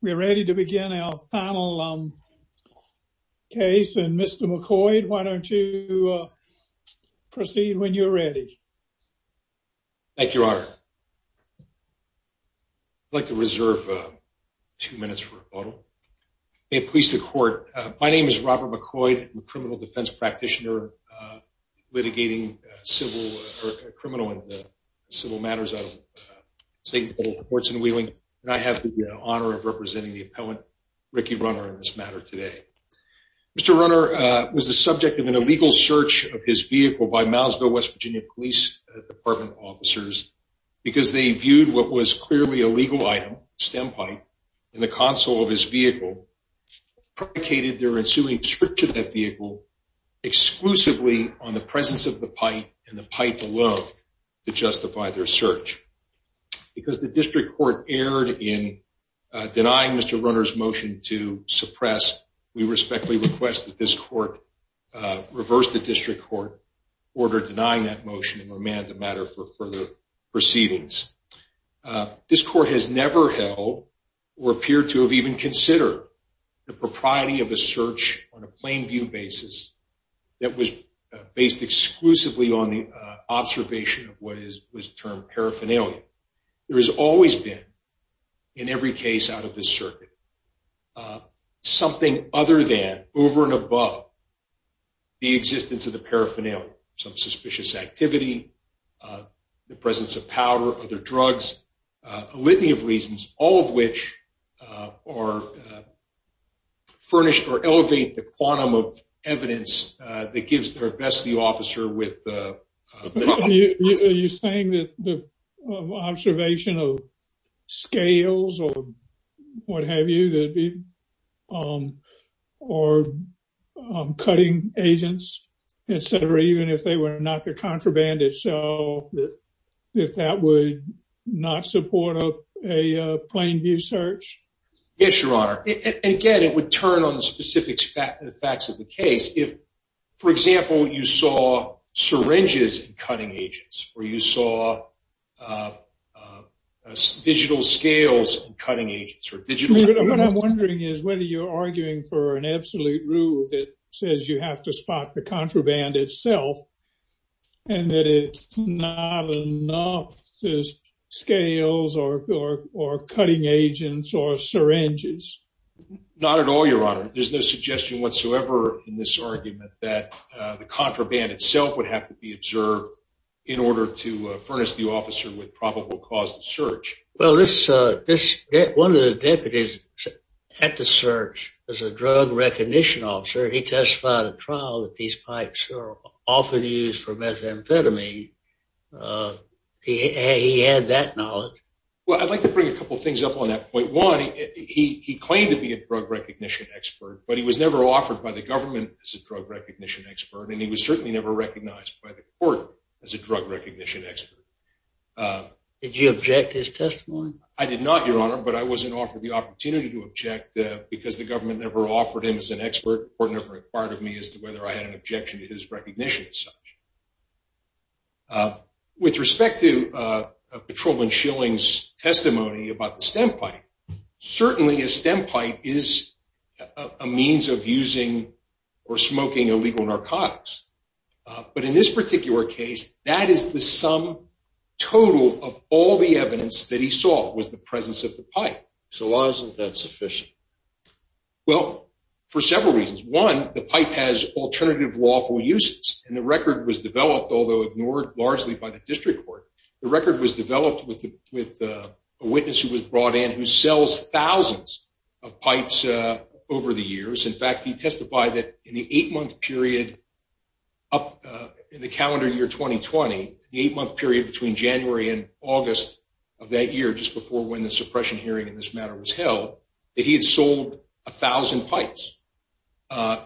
We're ready to begin our final case. And Mr. McCoy, why don't you proceed when you're ready? Thank you, Your Honor. I'd like to reserve two minutes for a photo. May it please the court. My name is Robert McCoy. I'm a criminal defense practitioner, litigating civil or criminal and civil matters out of St. Paul Courts in Wheeling. And I have the privilege of representing the appellant, Ricky Runner, in this matter today. Mr. Runner was the subject of an illegal search of his vehicle by Moundsville, West Virginia, Police Department officers because they viewed what was clearly a legal item, a stem pipe, in the console of his vehicle and predicated their ensuing search of that vehicle exclusively on the presence of the runner's motion to suppress. We respectfully request that this court reverse the district court order denying that motion and remand the matter for further proceedings. This court has never held or appeared to have even considered the propriety of a search on a plain view basis that was based exclusively on the observation of what is termed paraphernalia. There has always been, in every case out of this circuit, something other than, over and above, the existence of the paraphernalia. Some suspicious activity, the presence of powder, other drugs, a litany of reasons, all of which are furnished or elevate the quantum of evidence that gives their best view officer with... You're saying that the observation of scales or what have you, or cutting agents, etc., even if they were not the contraband itself, that that would not support a plain view search? Yes, Your Honor. Again, it would turn on the specifics, the facts of the syringes and cutting agents, or you saw digital scales and cutting agents, or digital... What I'm wondering is whether you're arguing for an absolute rule that says you have to spot the contraband itself and that it's not enough to scales or cutting agents or syringes. Not at all, Your Honor. There's no suggestion whatsoever in this argument that the contraband itself would have to be observed in order to furnish the officer with probable cause to search. Well, this... One of the deputies at the search was a drug recognition officer. He testified at trial that these pipes are often used for methamphetamine. He had that knowledge. Well, I'd like to bring a couple of things up on that point. One, he claimed to be a drug recognition expert, but he was never offered by the government as a drug recognition expert, and he was certainly never recognized by the court as a drug recognition expert. Did you object to his testimony? I did not, Your Honor, but I wasn't offered the opportunity to object because the government never offered him as an expert. The court never inquired of me as to whether I had an objection to his recognition as such. With respect to Patrolman Schilling's testimony about the stem pipe, certainly a stem pipe is a means of using or smoking illegal narcotics. But in this particular case, that is the sum total of all the evidence that he saw was the presence of the pipe. So why isn't that sufficient? Well, for several reasons. One, the pipe has alternative lawful uses, and the record was with a witness who was brought in who sells thousands of pipes over the years. In fact, he testified that in the eight-month period up in the calendar year 2020, the eight-month period between January and August of that year, just before when the suppression hearing in this matter was held, that he had sold a thousand pipes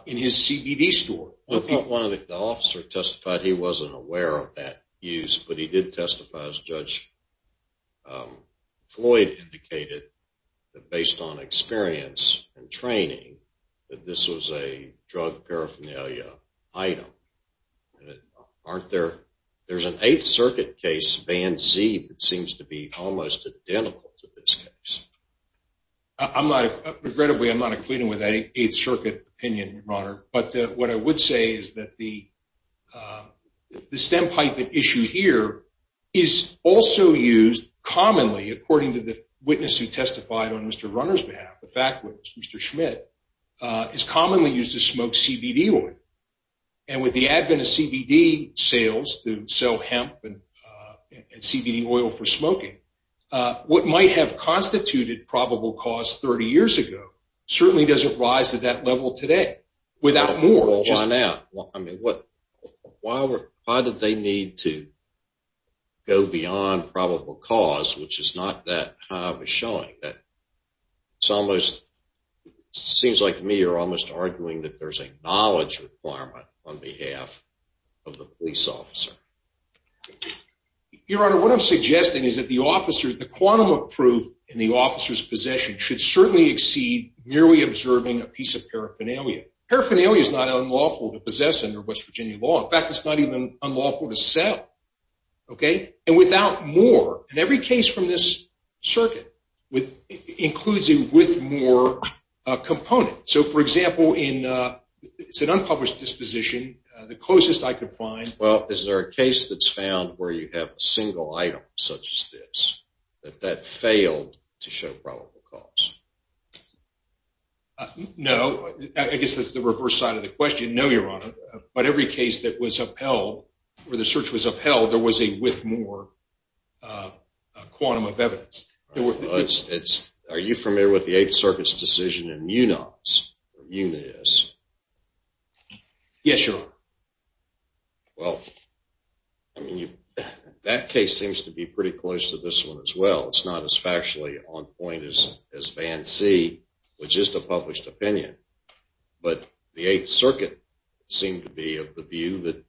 in his CBD store. The officer testified he wasn't aware of that use, but he did testify, as Judge Floyd indicated, that based on experience and training, that this was a drug paraphernalia item. There's an Eighth Circuit case, Van Zee, that seems to be almost identical to this case. Regrettably, I'm not agreeing with that Eighth Circuit. The pipe issue here is also used commonly, according to the witness who testified on Mr. Runner's behalf, the fact witness, Mr. Schmidt, is commonly used to smoke CBD oil. And with the advent of CBD sales to sell hemp and CBD oil for smoking, what might have constituted probable cause 30 years ago certainly doesn't rise to that level today, without more. Hold on now. I mean, why did they need to go beyond probable cause, which is not that high of a showing? Seems like me, you're almost arguing that there's a knowledge requirement on behalf of the police officer. Your Honor, what I'm suggesting is that the officer, the quantum of proof in the officer's possession should certainly exceed merely observing a piece of paraphernalia. Paraphernalia is not unlawful to possess under West Virginia law. In fact, it's not even unlawful to sell. And without more, and every case from this circuit includes a with more component. So for example, it's an unpublished disposition, the closest I could find- Well, is there a case that's found where you have a single item such as this, that that failed to show probable cause? No, I guess that's the reverse side of the question. No, Your Honor, but every case that was upheld, where the search was upheld, there was a with more quantum of evidence. It's, it's, are you familiar with the Eighth Circuit's decision in Munoz, or Munis? Yes, Your Honor. Well, I mean, that case seems to be pretty close to this one as well. It's not as factually on Band C, which is the published opinion. But the Eighth Circuit seemed to be of the view that a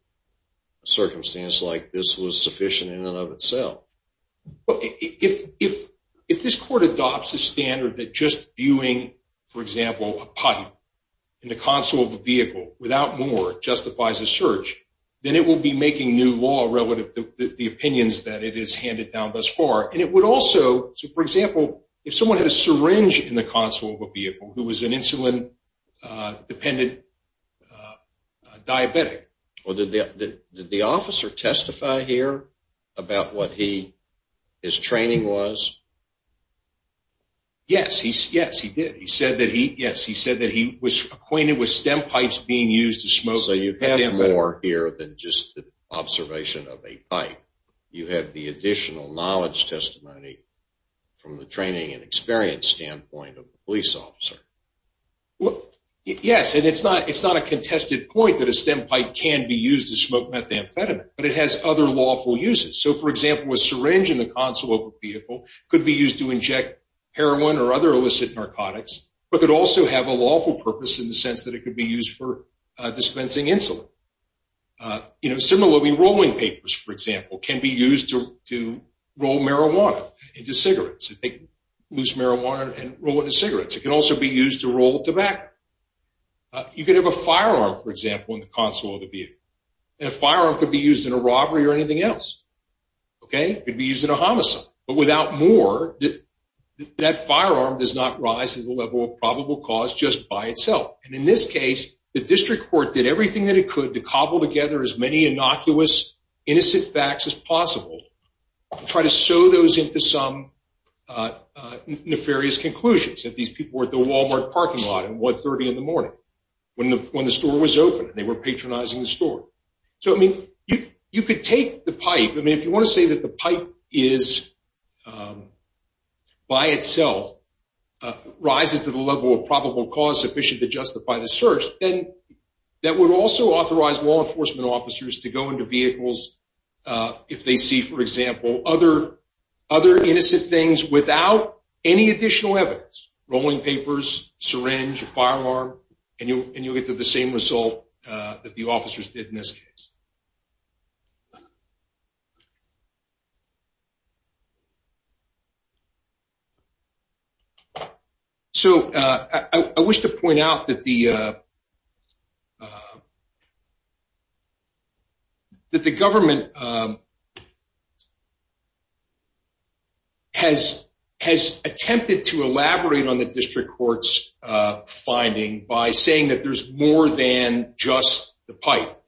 circumstance like this was sufficient in and of itself. But if, if, if this court adopts a standard that just viewing, for example, a pipe in the console of a vehicle without more justifies a search, then it will be making new law relative to the opinions that it is handed down thus far. And it would also, so for example, if someone had a syringe in the console of a vehicle who was an insulin-dependent diabetic. Well, did the, did the officer testify here about what he, his training was? Yes, he, yes, he did. He said that he, yes, he said that he was acquainted with stem pipes being used to smoke. So you have more here than just the observation of a pipe. You have the additional knowledge testimony from the training and experience standpoint of the police officer. Yes, and it's not, it's not a contested point that a stem pipe can be used to smoke methamphetamine, but it has other lawful uses. So for example, a syringe in the console of a vehicle could be used to inject heroin or other illicit narcotics, but could also have a lawful purpose in the sense that it could be used for dispensing insulin. You know, similarly, rolling papers, for example, can be used to roll marijuana into cigarettes, loose marijuana and roll it into cigarettes. It can also be used to roll tobacco. You could have a firearm, for example, in the console of the vehicle. And a firearm could be used in a robbery or anything else. Okay. It could be used in a homicide, but without more, that firearm does not rise to the level of probable cause just by itself. And in this case, the district court did everything that it could to cobble together as innocuous, innocent facts as possible, try to sew those into some nefarious conclusions. If these people were at the Walmart parking lot at 1.30 in the morning, when the store was open, they were patronizing the store. So, I mean, you could take the pipe. I mean, if you want to say that the pipe is, by itself, rises to the level of probable cause sufficient to justify the search, that would also authorize law enforcement officers to go into vehicles, if they see, for example, other innocent things without any additional evidence, rolling papers, syringe, firearm, and you'll get the same result that the officers did in this case. So, I wish to point out that the government has attempted to elaborate on the district court's finding by saying that there's more than just the pipe.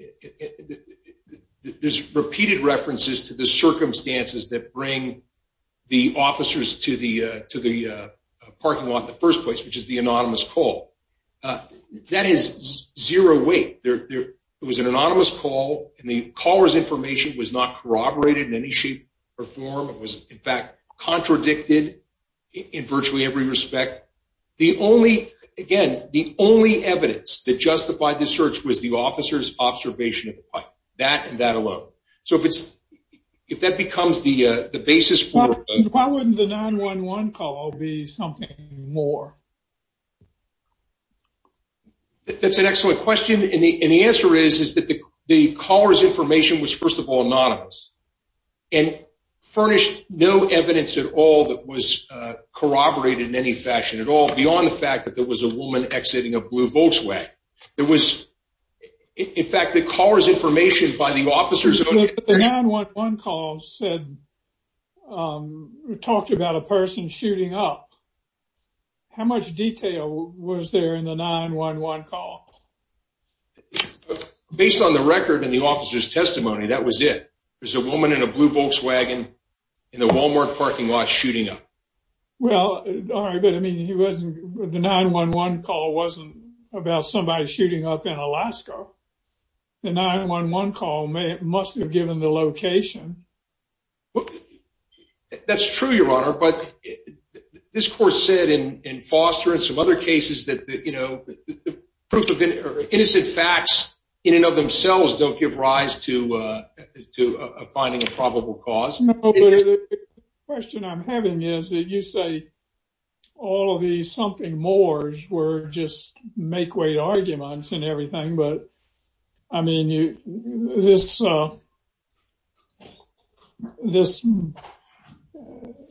There's repeated references to the circumstances that bring the officers to the parking lot in the first place, which is the anonymous call. That is zero weight. It was an anonymous call, and the caller's information was not corroborated in any shape or form. It was, in fact, contradicted in virtually every respect. The only, again, the only evidence that justified the search was the officer's observation of the pipe, that and that alone. So, if that becomes the basis for... Why wouldn't the 9-1-1 call be something more? That's an excellent question, and the answer is that the caller's information was, first of all, anonymous, and furnished no evidence at all that was corroborated in any fashion at all beyond the fact that there was a woman exiting a blue Volkswagen. There was, in fact, the caller's information by the officers... But the 9-1-1 call said, talked about a person shooting up. How much detail was there in the 9-1-1 call? Based on the record and the officer's testimony, that was it. There's a woman in a blue Volkswagen in the Walmart parking lot shooting up. Well, all right, but, I mean, he wasn't... The 9-1-1 call wasn't about somebody shooting up in Alaska. The 9-1-1 call must have given the location. That's true, Your Honor, but this court said in Foster and some other cases that, you know, proof of... Innocent facts in and of themselves don't give rise to finding a probable cause. No, but the question I'm having is that you say all of these something-mores were just make-weight arguments and everything, but, I mean, this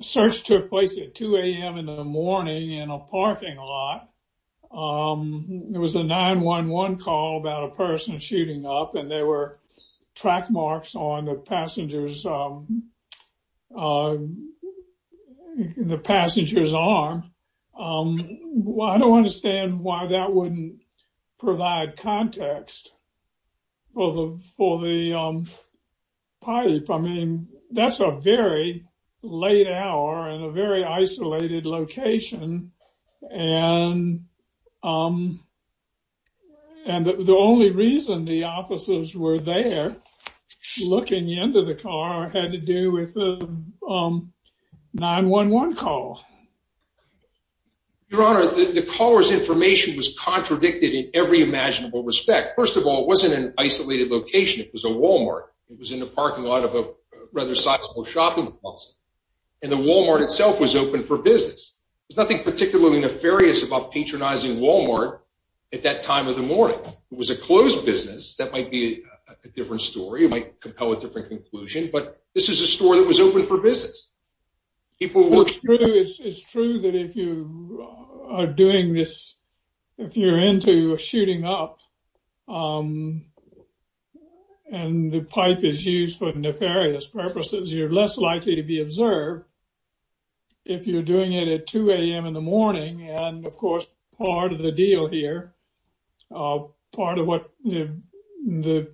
search took place at 2 a.m. in the morning in a parking lot. There was a 9-1-1 call about a person shooting up, and there were track marks on the passenger's arm. I don't understand why that wouldn't provide context for the pipe. I mean, that's a very late hour in a very isolated location, and the only reason the officers were there looking into the car had to do with the 9-1-1 call. Your Honor, the caller's information was contradicted in every imaginable respect. First of all, it wasn't an isolated location. It was a Walmart. It was in the parking lot of a rather sizable shopping mall, and the Walmart itself was open for business. There's nothing particularly nefarious about patronizing Walmart at that time of the morning. It was a closed business. That might be a different story. It might compel a different conclusion, but this is a store that was open for business. It's true that if you are doing this, if you're into shooting up, and the pipe is used for nefarious purposes, you're less likely to be observed if you're doing it at 2 a.m. in the morning. Of course, part of the deal here, part of what the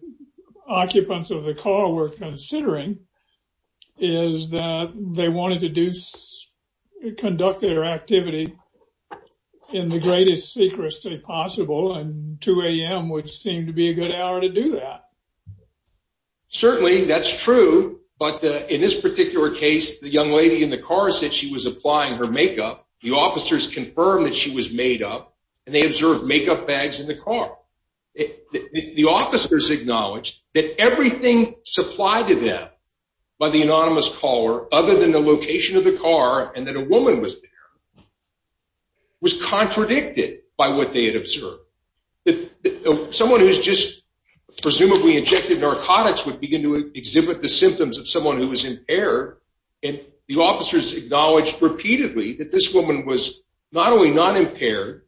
occupants of the car were considering, is that they wanted to conduct their activity in the greatest secrecy possible, and 2 a.m. would seem to be a good hour to do that. Certainly, that's true, but in this particular case, the young lady in the car said she was applying her makeup. The officers confirmed that she was made up, and they observed makeup bags in the car. The officers acknowledged that everything supplied to them by the anonymous caller, other than the location of the car and that a woman was there, was contradicted by what they had observed. Someone who's just presumably injected narcotics would begin to exhibit the symptoms of someone who was impaired, and the officers acknowledged repeatedly that this woman was not only not impaired,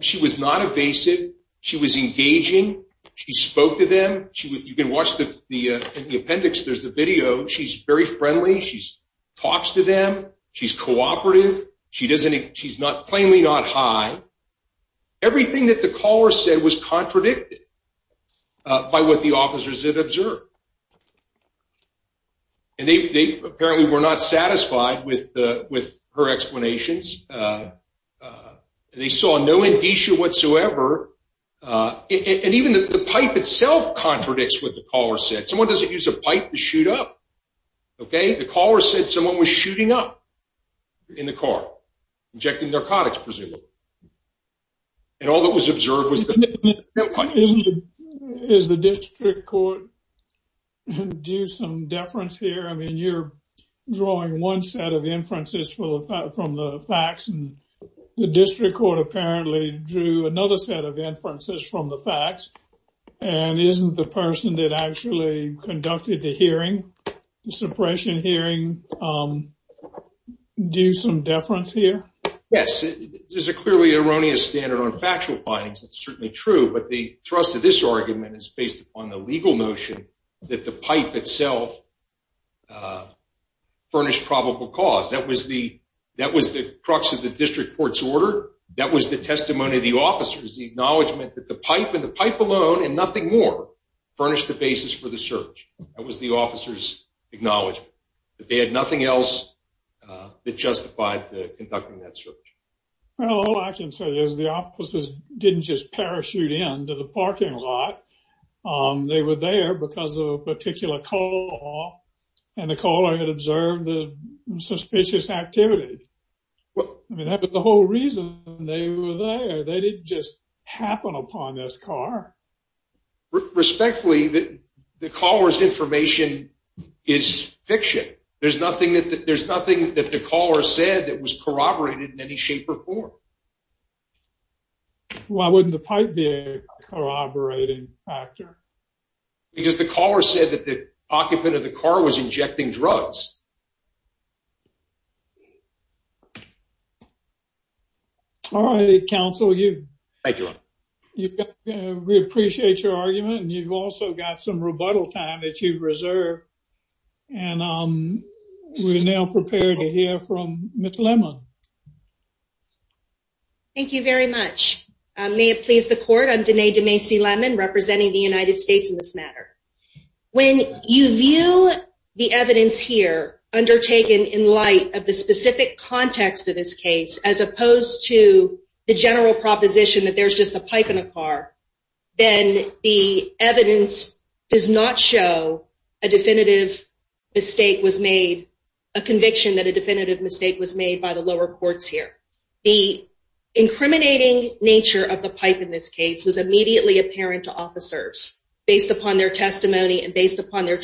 she was not evasive, she was engaging, she spoke to them. You can watch the appendix, there's a video. She's very friendly, she talks to them, she's cooperative, she's not plainly not high. Everything that the caller said was contradicted by what the officers had observed, and they apparently were not satisfied with her behavior. The pipe itself contradicts what the caller said. Someone doesn't use a pipe to shoot up. The caller said someone was shooting up in the car, injecting narcotics, presumably, and all that was observed was the pipe. Is the district court due some deference here? I mean, you're drawing one set of inferences from the facts, and the district court apparently drew another set of inferences from the facts, and isn't the person that actually conducted the hearing, the suppression hearing, due some deference here? Yes, there's a clearly erroneous standard on factual findings. It's certainly true, but the thrust of this argument is based upon the legal notion that the pipe itself furnished probable cause. That was the crux of the district court's testimony to the officers, the acknowledgement that the pipe and the pipe alone and nothing more furnished the basis for the search. That was the officers' acknowledgement that they had nothing else that justified conducting that search. Well, all I can say is the officers didn't just parachute into the parking lot. They were there because of a particular call, and the caller had suspicious activity. I mean, that was the whole reason they were there. They didn't just happen upon this car. Respectfully, the caller's information is fiction. There's nothing that the caller said that was corroborated in any shape or form. Why wouldn't the pipe be a corroborating factor? Because the caller said that the pipe was a corroborating factor. All right, counsel, we appreciate your argument, and you've also got some rebuttal time that you've reserved, and we're now prepared to hear from Ms. Lemon. Thank you very much. May it please the court, I'm Denae DeMacy Lemon, representing the United States in this matter. When you view the of the specific context of this case, as opposed to the general proposition that there's just a pipe in a car, then the evidence does not show a definitive mistake was made, a conviction that a definitive mistake was made by the lower courts here. The incriminating nature of the pipe in this case was immediately apparent to officers based upon their testimony and based upon their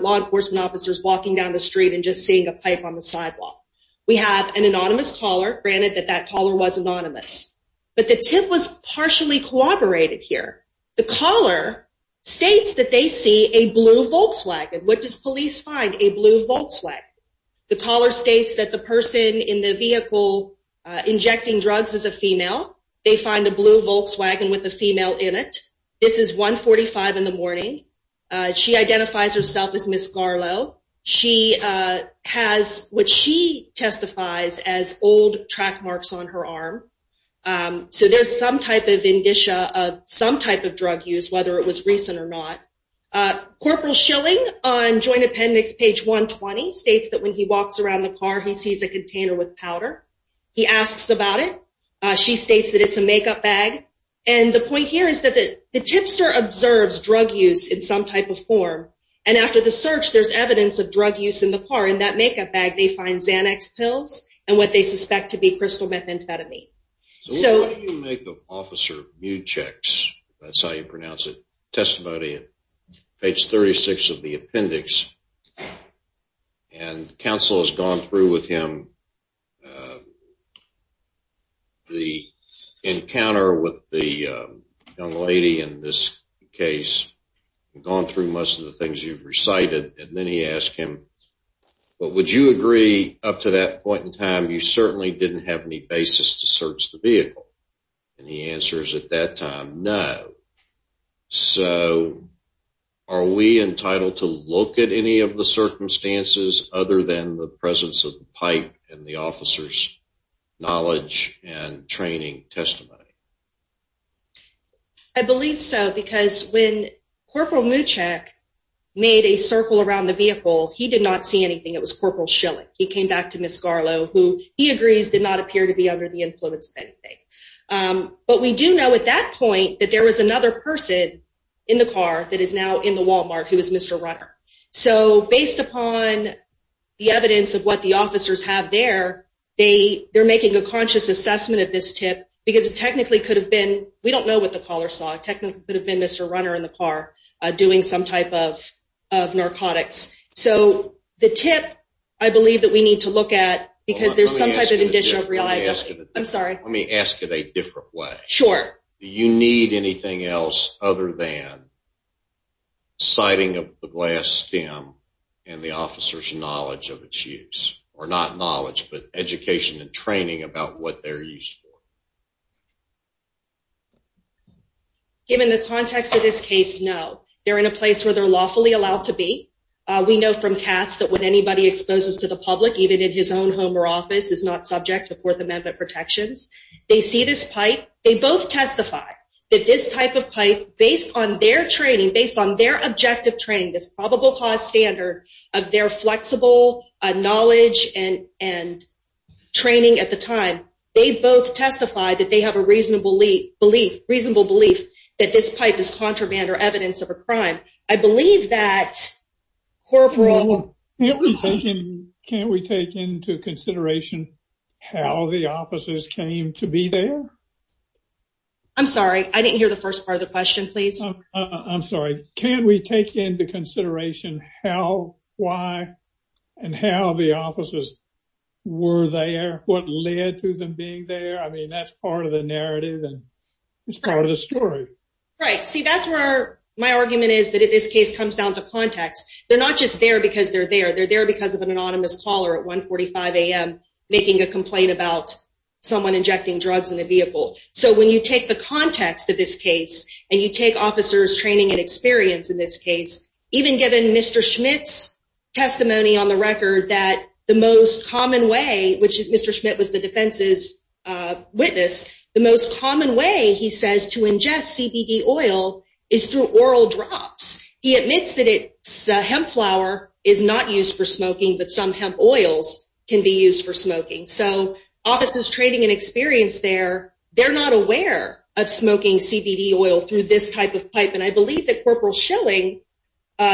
law enforcement officers walking down the street and just seeing a pipe on the sidewalk. We have an anonymous caller, granted that that caller was anonymous, but the tip was partially corroborated here. The caller states that they see a blue Volkswagen. What does police find? A blue Volkswagen. The caller states that the person in the vehicle injecting drugs is a female. They find a blue Volkswagen with a female in it. This is 145 in the morning. She identifies herself as Ms. Garlow. She has what she testifies as old track marks on her arm. So there's some type of indicia of some type of drug use, whether it was recent or not. Corporal Schilling on Joint Appendix page 120 states that when he walks around the car, he sees a container with powder. He asks about it. She states that it's a makeup bag. And the tipster observes drug use in some type of form. And after the search, there's evidence of drug use in the car. In that makeup bag, they find Xanax pills and what they suspect to be crystal methamphetamine. So why do you make the officer mute checks? That's how you pronounce it. Testimony page 36 of the appendix. And counsel has gone through with him the encounter with the young lady in this case, gone through most of the things you've recited, and then he asked him, but would you agree up to that point in time, you certainly didn't have any basis to search the vehicle? And he answers at that time, no. So are we entitled to look at any of the circumstances other than the presence of the pipe and the officer's knowledge and training testimony? I believe so, because when Corporal Mucek made a circle around the vehicle, he did not see anything. It was Corporal Schilling. He came back to Ms. Garlow, who he agrees did not appear to be under the influence of anything. But we do know at that So based upon the evidence of what the officers have there, they're making a conscious assessment of this tip, because it technically could have been, we don't know what the caller saw, it technically could have been Mr. Runner in the car doing some type of narcotics. So the tip, I believe that we need to look at, because there's some type of additional reliability. I'm sorry. Let me ask it a different way. Sure. Do you need anything else other than sighting of the glass stem and the officer's knowledge of its use? Or not knowledge, but education and training about what they're used for? Given the context of this case, no. They're in a place where they're lawfully allowed to be. We know from Katz that when anybody exposes to the public, even in his own home or office, is not subject to Fourth Amendment protections, they see this pipe, they both testify that this on their objective training, this probable cause standard of their flexible knowledge and training at the time, they both testify that they have a reasonable belief that this pipe is contraband or evidence of a crime. Can't we take into consideration how the officers came to be there? I'm sorry. I didn't hear the first part of the question, please. I'm sorry. Can't we take into consideration how, why, and how the officers were there? What led to them being there? I mean, that's part of the narrative and it's part of the story. Right. See, that's where my argument is that if this case comes down to context, they're not just there because they're there. They're there because of an anonymous caller at 1.45 a.m. making a complaint about someone injecting drugs in a vehicle. So when you take the context of this case and you take officers' training and experience in this case, even given Mr. Schmidt's testimony on the record that the most common way, which Mr. Schmidt was the defense's witness, the most common way, he says, to ingest CBD oil is through oral drops. He admits that hemp flour is not used for smoking, but some hemp oils can be used for smoking. So officers' training and experience there, they're not aware of smoking CBD oil through this type of pipe. And I believe that Corporal Schilling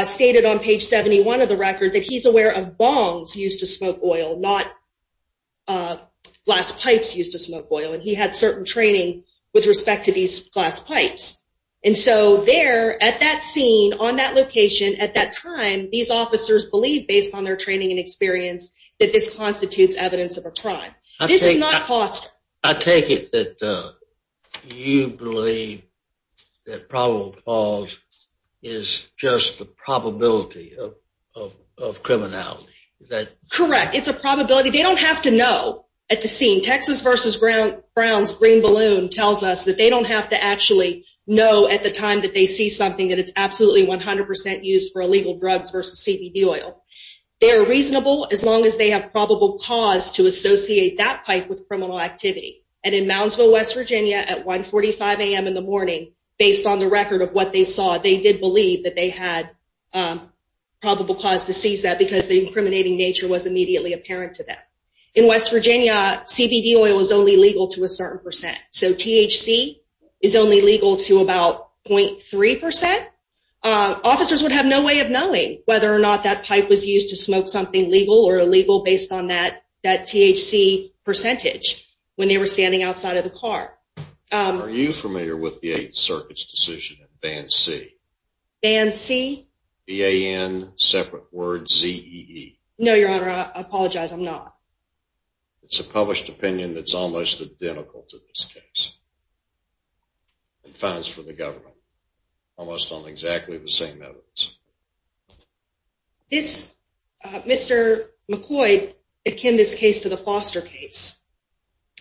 stated on page 71 of the record that he's aware of bongs used to smoke oil, not glass pipes used to smoke oil. And he had certain training with respect to these glass pipes. And so there, at that scene, on that location, at that time, these officers believe, based on their training and experience, that this constitutes evidence of a crime. This is not foster. I take it that you believe that probable cause is just the probability of criminality. Is that correct? It's a probability. They don't have to know at the scene. Texas v. Brown's Green Balloon tells us that they don't have to actually know at the time that they see something that it's absolutely 100% used for illegal drugs versus CBD oil. They're reasonable as long as they have probable cause to associate that pipe with criminal activity. And in Moundsville, West Virginia, at 1.45 a.m. in the morning, based on the record of what they saw, they did believe that they had probable cause to seize that because the incriminating nature was immediately apparent to them. In West Virginia, CBD oil is only legal to a certain percent. So THC is only legal to about 0.3%. Officers would have no way of knowing whether or not that pipe was used to smoke something legal or illegal based on that THC percentage when they were standing outside of the car. Are you familiar with the Eighth Circuit's decision in Band C? Band C? B-A-N, separate word, Z-E-E. No, Your Honor, I apologize. I'm not. It's a published opinion that's almost identical to this case in fines for the government, almost on exactly the same evidence. This, Mr. McCoy, akin this case to the Foster case.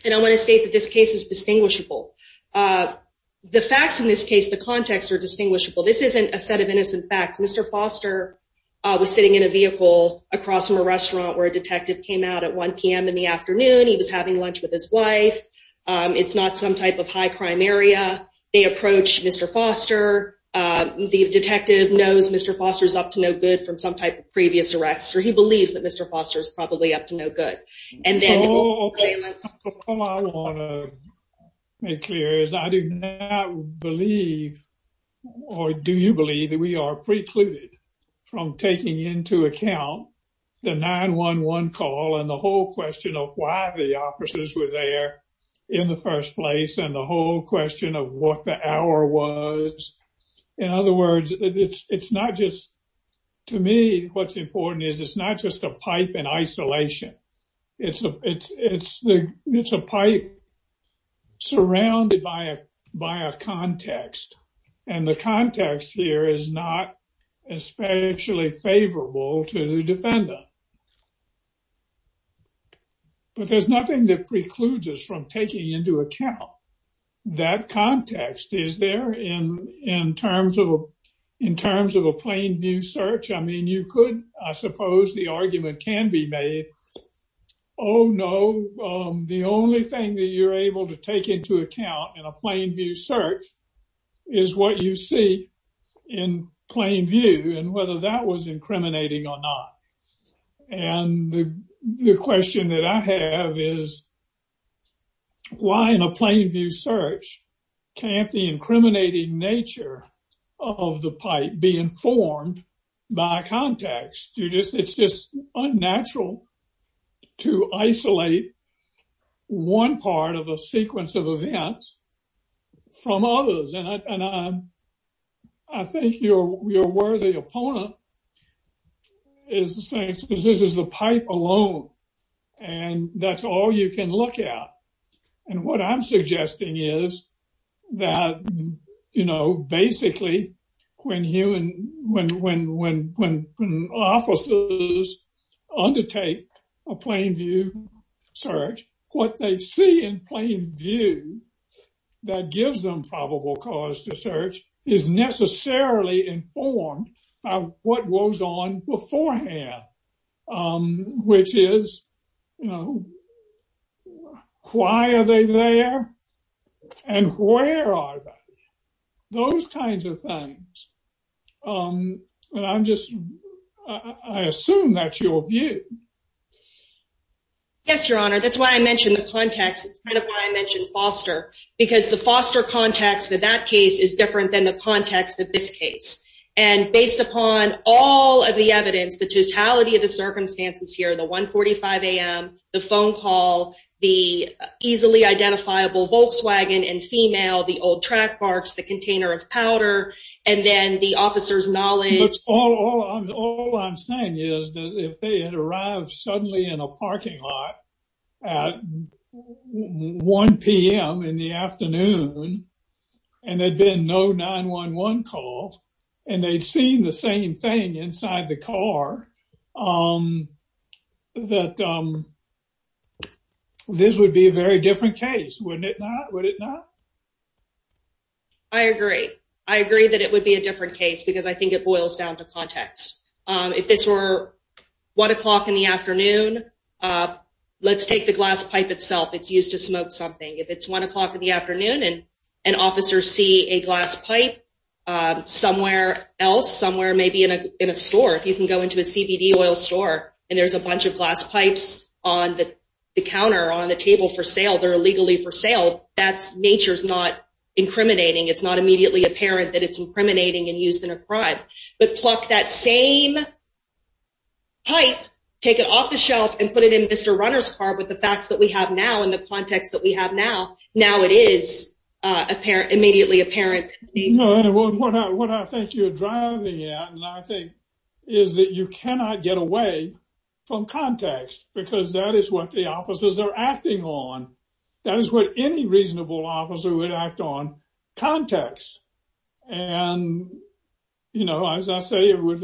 And I want to state that this case is distinguishable. The facts in this case, the context are distinguishable. This isn't a set of innocent facts. Mr. Foster was sitting in a vehicle across from a restaurant where a detective came out at 1 p.m. in the afternoon. He was having lunch with his wife. It's not some type of high-crime area. They approached Mr. Foster. The detective knows Mr. Foster's up to no good from some type of previous arrests, or he believes that Mr. Foster's probably up to no good. All I want to make clear is I do not believe, or do you believe, that we are precluded from taking into account the 911 call and the whole question of why the officers were there in the first place and the whole question of what the hour was. In other words, it's not just, to me, what's important is it's not just a pipe in isolation. It's a pipe surrounded by a context. And the context here is not especially favorable to the defendant. But there's nothing that precludes us from taking into account that context, is there, in terms of a plain view search. I mean, you could, I suppose the argument can be made, oh no, the only thing that you're able to take into account in a plain view search is what you see in plain view and whether that was incriminating or not. And the question that I have is why in a plain view search can't the incriminating nature of the pipe be informed by context? It's just unnatural to isolate one part of a sequence of events from others. And I think your worthy opponent is to say this is the pipe alone and that's all you can look at. And what I'm suggesting is that, you know, basically when human, when officers undertake a plain view search, what they see in plain view that gives them probable cause to search is necessarily informed by what was on beforehand, which is, you know, why are they there and where are they? Those kinds of things. And I'm just, I assume that's your view. Yes, Your Honor. That's why I mentioned the context. It's kind of why I mentioned Foster, because the Foster context of that case is different than the context of this case. And based upon all of the evidence, the totality of the circumstances here, the 145 a.m., the phone call, the easily identifiable Volkswagen and female, the old track marks, the container of powder, and then the officer's knowledge. But all I'm saying is that if they had arrived suddenly in a parking lot at 1 p.m. in the afternoon, and they've seen the same thing inside the car, that this would be a very different case, wouldn't it not? Would it not? I agree. I agree that it would be a different case because I think it boils down to context. If this were 1 o'clock in the afternoon, let's take the glass pipe itself. It's used to smoke something. If it's 1 o'clock in the afternoon somewhere else, somewhere maybe in a store, if you can go into a CBD oil store, and there's a bunch of glass pipes on the counter, on the table for sale, they're illegally for sale, that's nature's not incriminating. It's not immediately apparent that it's incriminating and used in a crime. But pluck that same pipe, take it off the shelf, and put it in Mr. Runner's car with the facts that we have now and the context that we have now, now it is immediately apparent. No, and what I think you're driving at, and I think, is that you cannot get away from context because that is what the officers are acting on. That is what any reasonable officer would act on, context. And, you know, as I say, without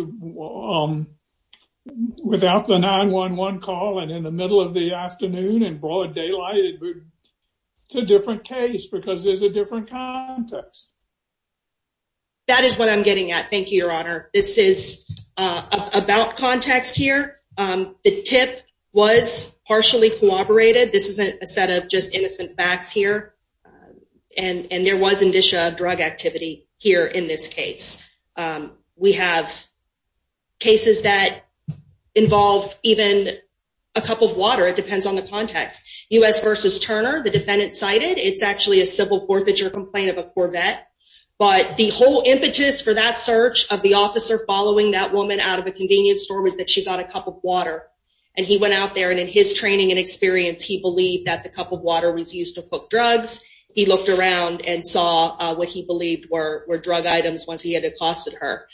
the 9-1-1 call and in the middle of the afternoon and broad daylight, it's a different case because there's a different context. That is what I'm getting at. Thank you, Your Honor. This is about context here. The tip was partially corroborated. This isn't a set of just innocent facts here. And there was indicia of drug activity here in this case. We have cases that involve even a cup of water. It depends on the context. U.S. versus Turner, the defendant cited, it's actually a civil forfeiture complaint of a Corvette. But the whole impetus for that search of the officer following that woman out of a convenience store was that she got a cup of water. And he went out there and in his training and experience, he believed that the cup of water was used to cook drugs. He looked around and saw what he believed were drug items once he accosted her.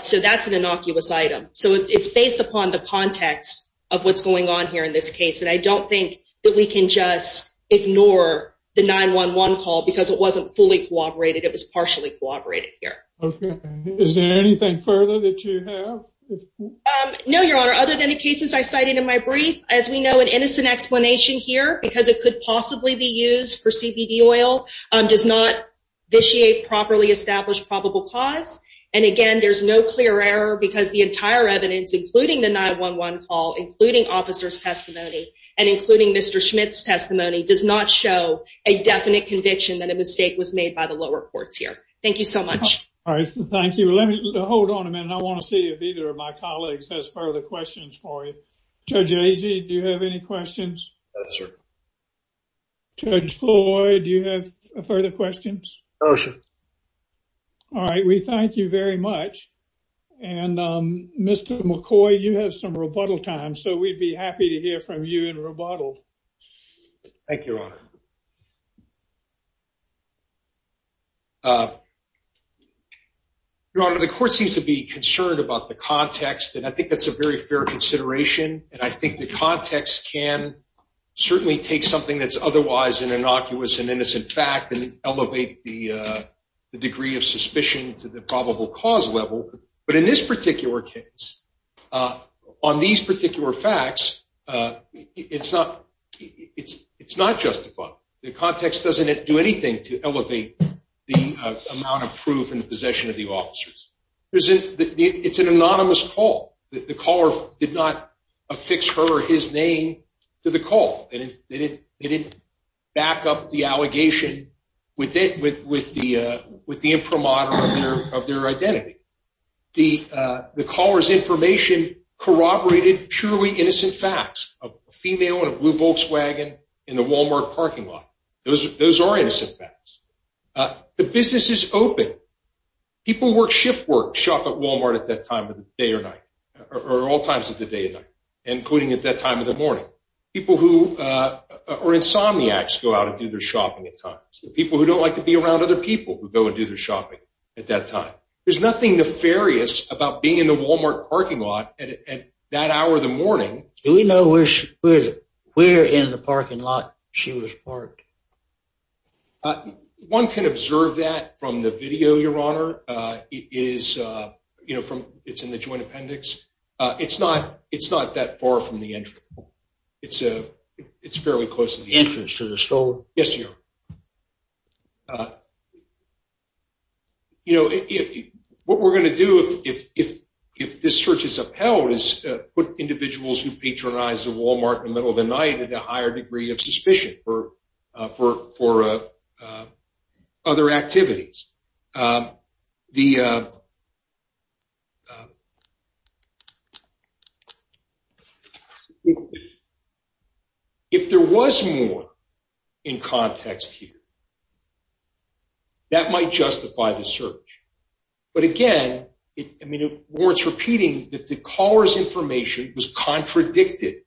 So that's an innocuous item. So it's based upon the context of what's going on here in this case. And I don't think that we can just ignore the 9-1-1 call because it wasn't fully corroborated. It was partially corroborated here. Okay. Is there anything further that you have? No, Your Honor. Other than the cases I cited in my brief, as we know, an innocent explanation here because it could possibly be used for CBD oil does not vitiate properly established probable cause. And again, there's no clear error because the entire evidence, including the 9-1-1 call, including officer's testimony, and including Mr. Schmidt's testimony, does not show a definite conviction that a mistake was made by the lower courts here. Thank you so much. All right. Thank you. Hold on a minute. I want to see if either of my colleagues has further questions for you. Judge Agee, do you have any questions? No, sir. Judge Floyd, do you have further questions? No, sir. All right. We thank you very much. And Mr. McCoy, you have some rebuttal time, so we'd be happy to hear from you in rebuttal. Thank you, Your Honor. Your Honor, the court seems to be concerned about the context, and I think that's a very fair consideration. And I think the context can certainly take something that's otherwise an innocuous and innocent fact and elevate the degree of suspicion to the probable cause level. But in this particular case, on these particular facts, it's not justified. The context doesn't do anything to elevate the amount of proof and possession of the officers. It's an anonymous call. The caller did not affix her or his name to the call. They didn't back up the allegation with the imprimatur of their identity. The caller's information corroborated purely innocent facts of a female in a blue Volkswagen in the Walmart parking lot. Those are innocent facts. The business is open. People who work shift work shop at Walmart at that time of the day or night, or all times of the day and night, including at that time of the morning. People who are insomniacs go out and do their shopping at times. People who don't like to be around other people who go and do their shopping at that time. There's nothing nefarious about being in the Walmart parking lot at that hour of the morning. Do we know where in the world this person is? One can observe that from the video, Your Honor. It's in the joint appendix. It's not that far from the entrance. It's fairly close to the entrance to the store. What we're going to do if this search is upheld is put individuals who patronize the Walmart in for other activities. If there was more in context here, that might justify the search. But again, it warrants repeating that the caller's information was contradicted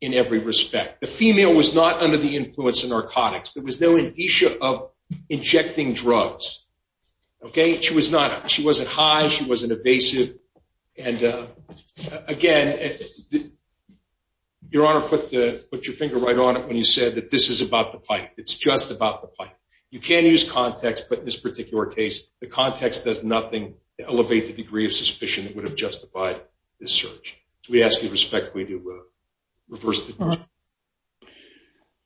in every respect. The female was not under the influence of narcotics. There was no indicia of injecting drugs. She wasn't high. She wasn't evasive. Again, Your Honor, put your finger right on it when you said that this is about the pipe. It's just about the pipe. You can use context, but in this particular case, the context does nothing to elevate the degree of suspicion that would have justified this search. We ask you respectfully to reverse the question.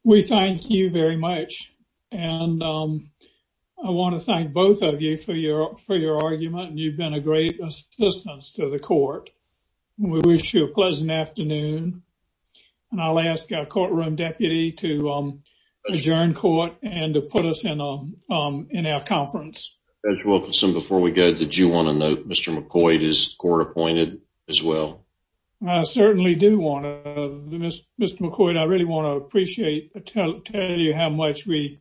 We thank you very much. I want to thank both of you for your argument. You've been a great assistance to the court. We wish you a pleasant afternoon. I'll ask our courtroom deputy to adjourn court and to put us in our conference. Judge Wilkinson, before we go, did you want to court-appoint McCoy as well? I certainly do want to. Mr. McCoy, I really want to tell you how much we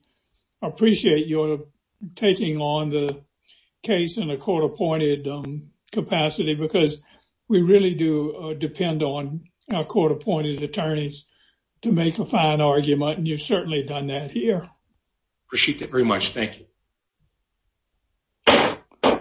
appreciate your taking on the case in a court-appointed capacity because we really do depend on our court-appointed attorneys to make a fine argument, and you've certainly done that appreciate that very much. Thank you.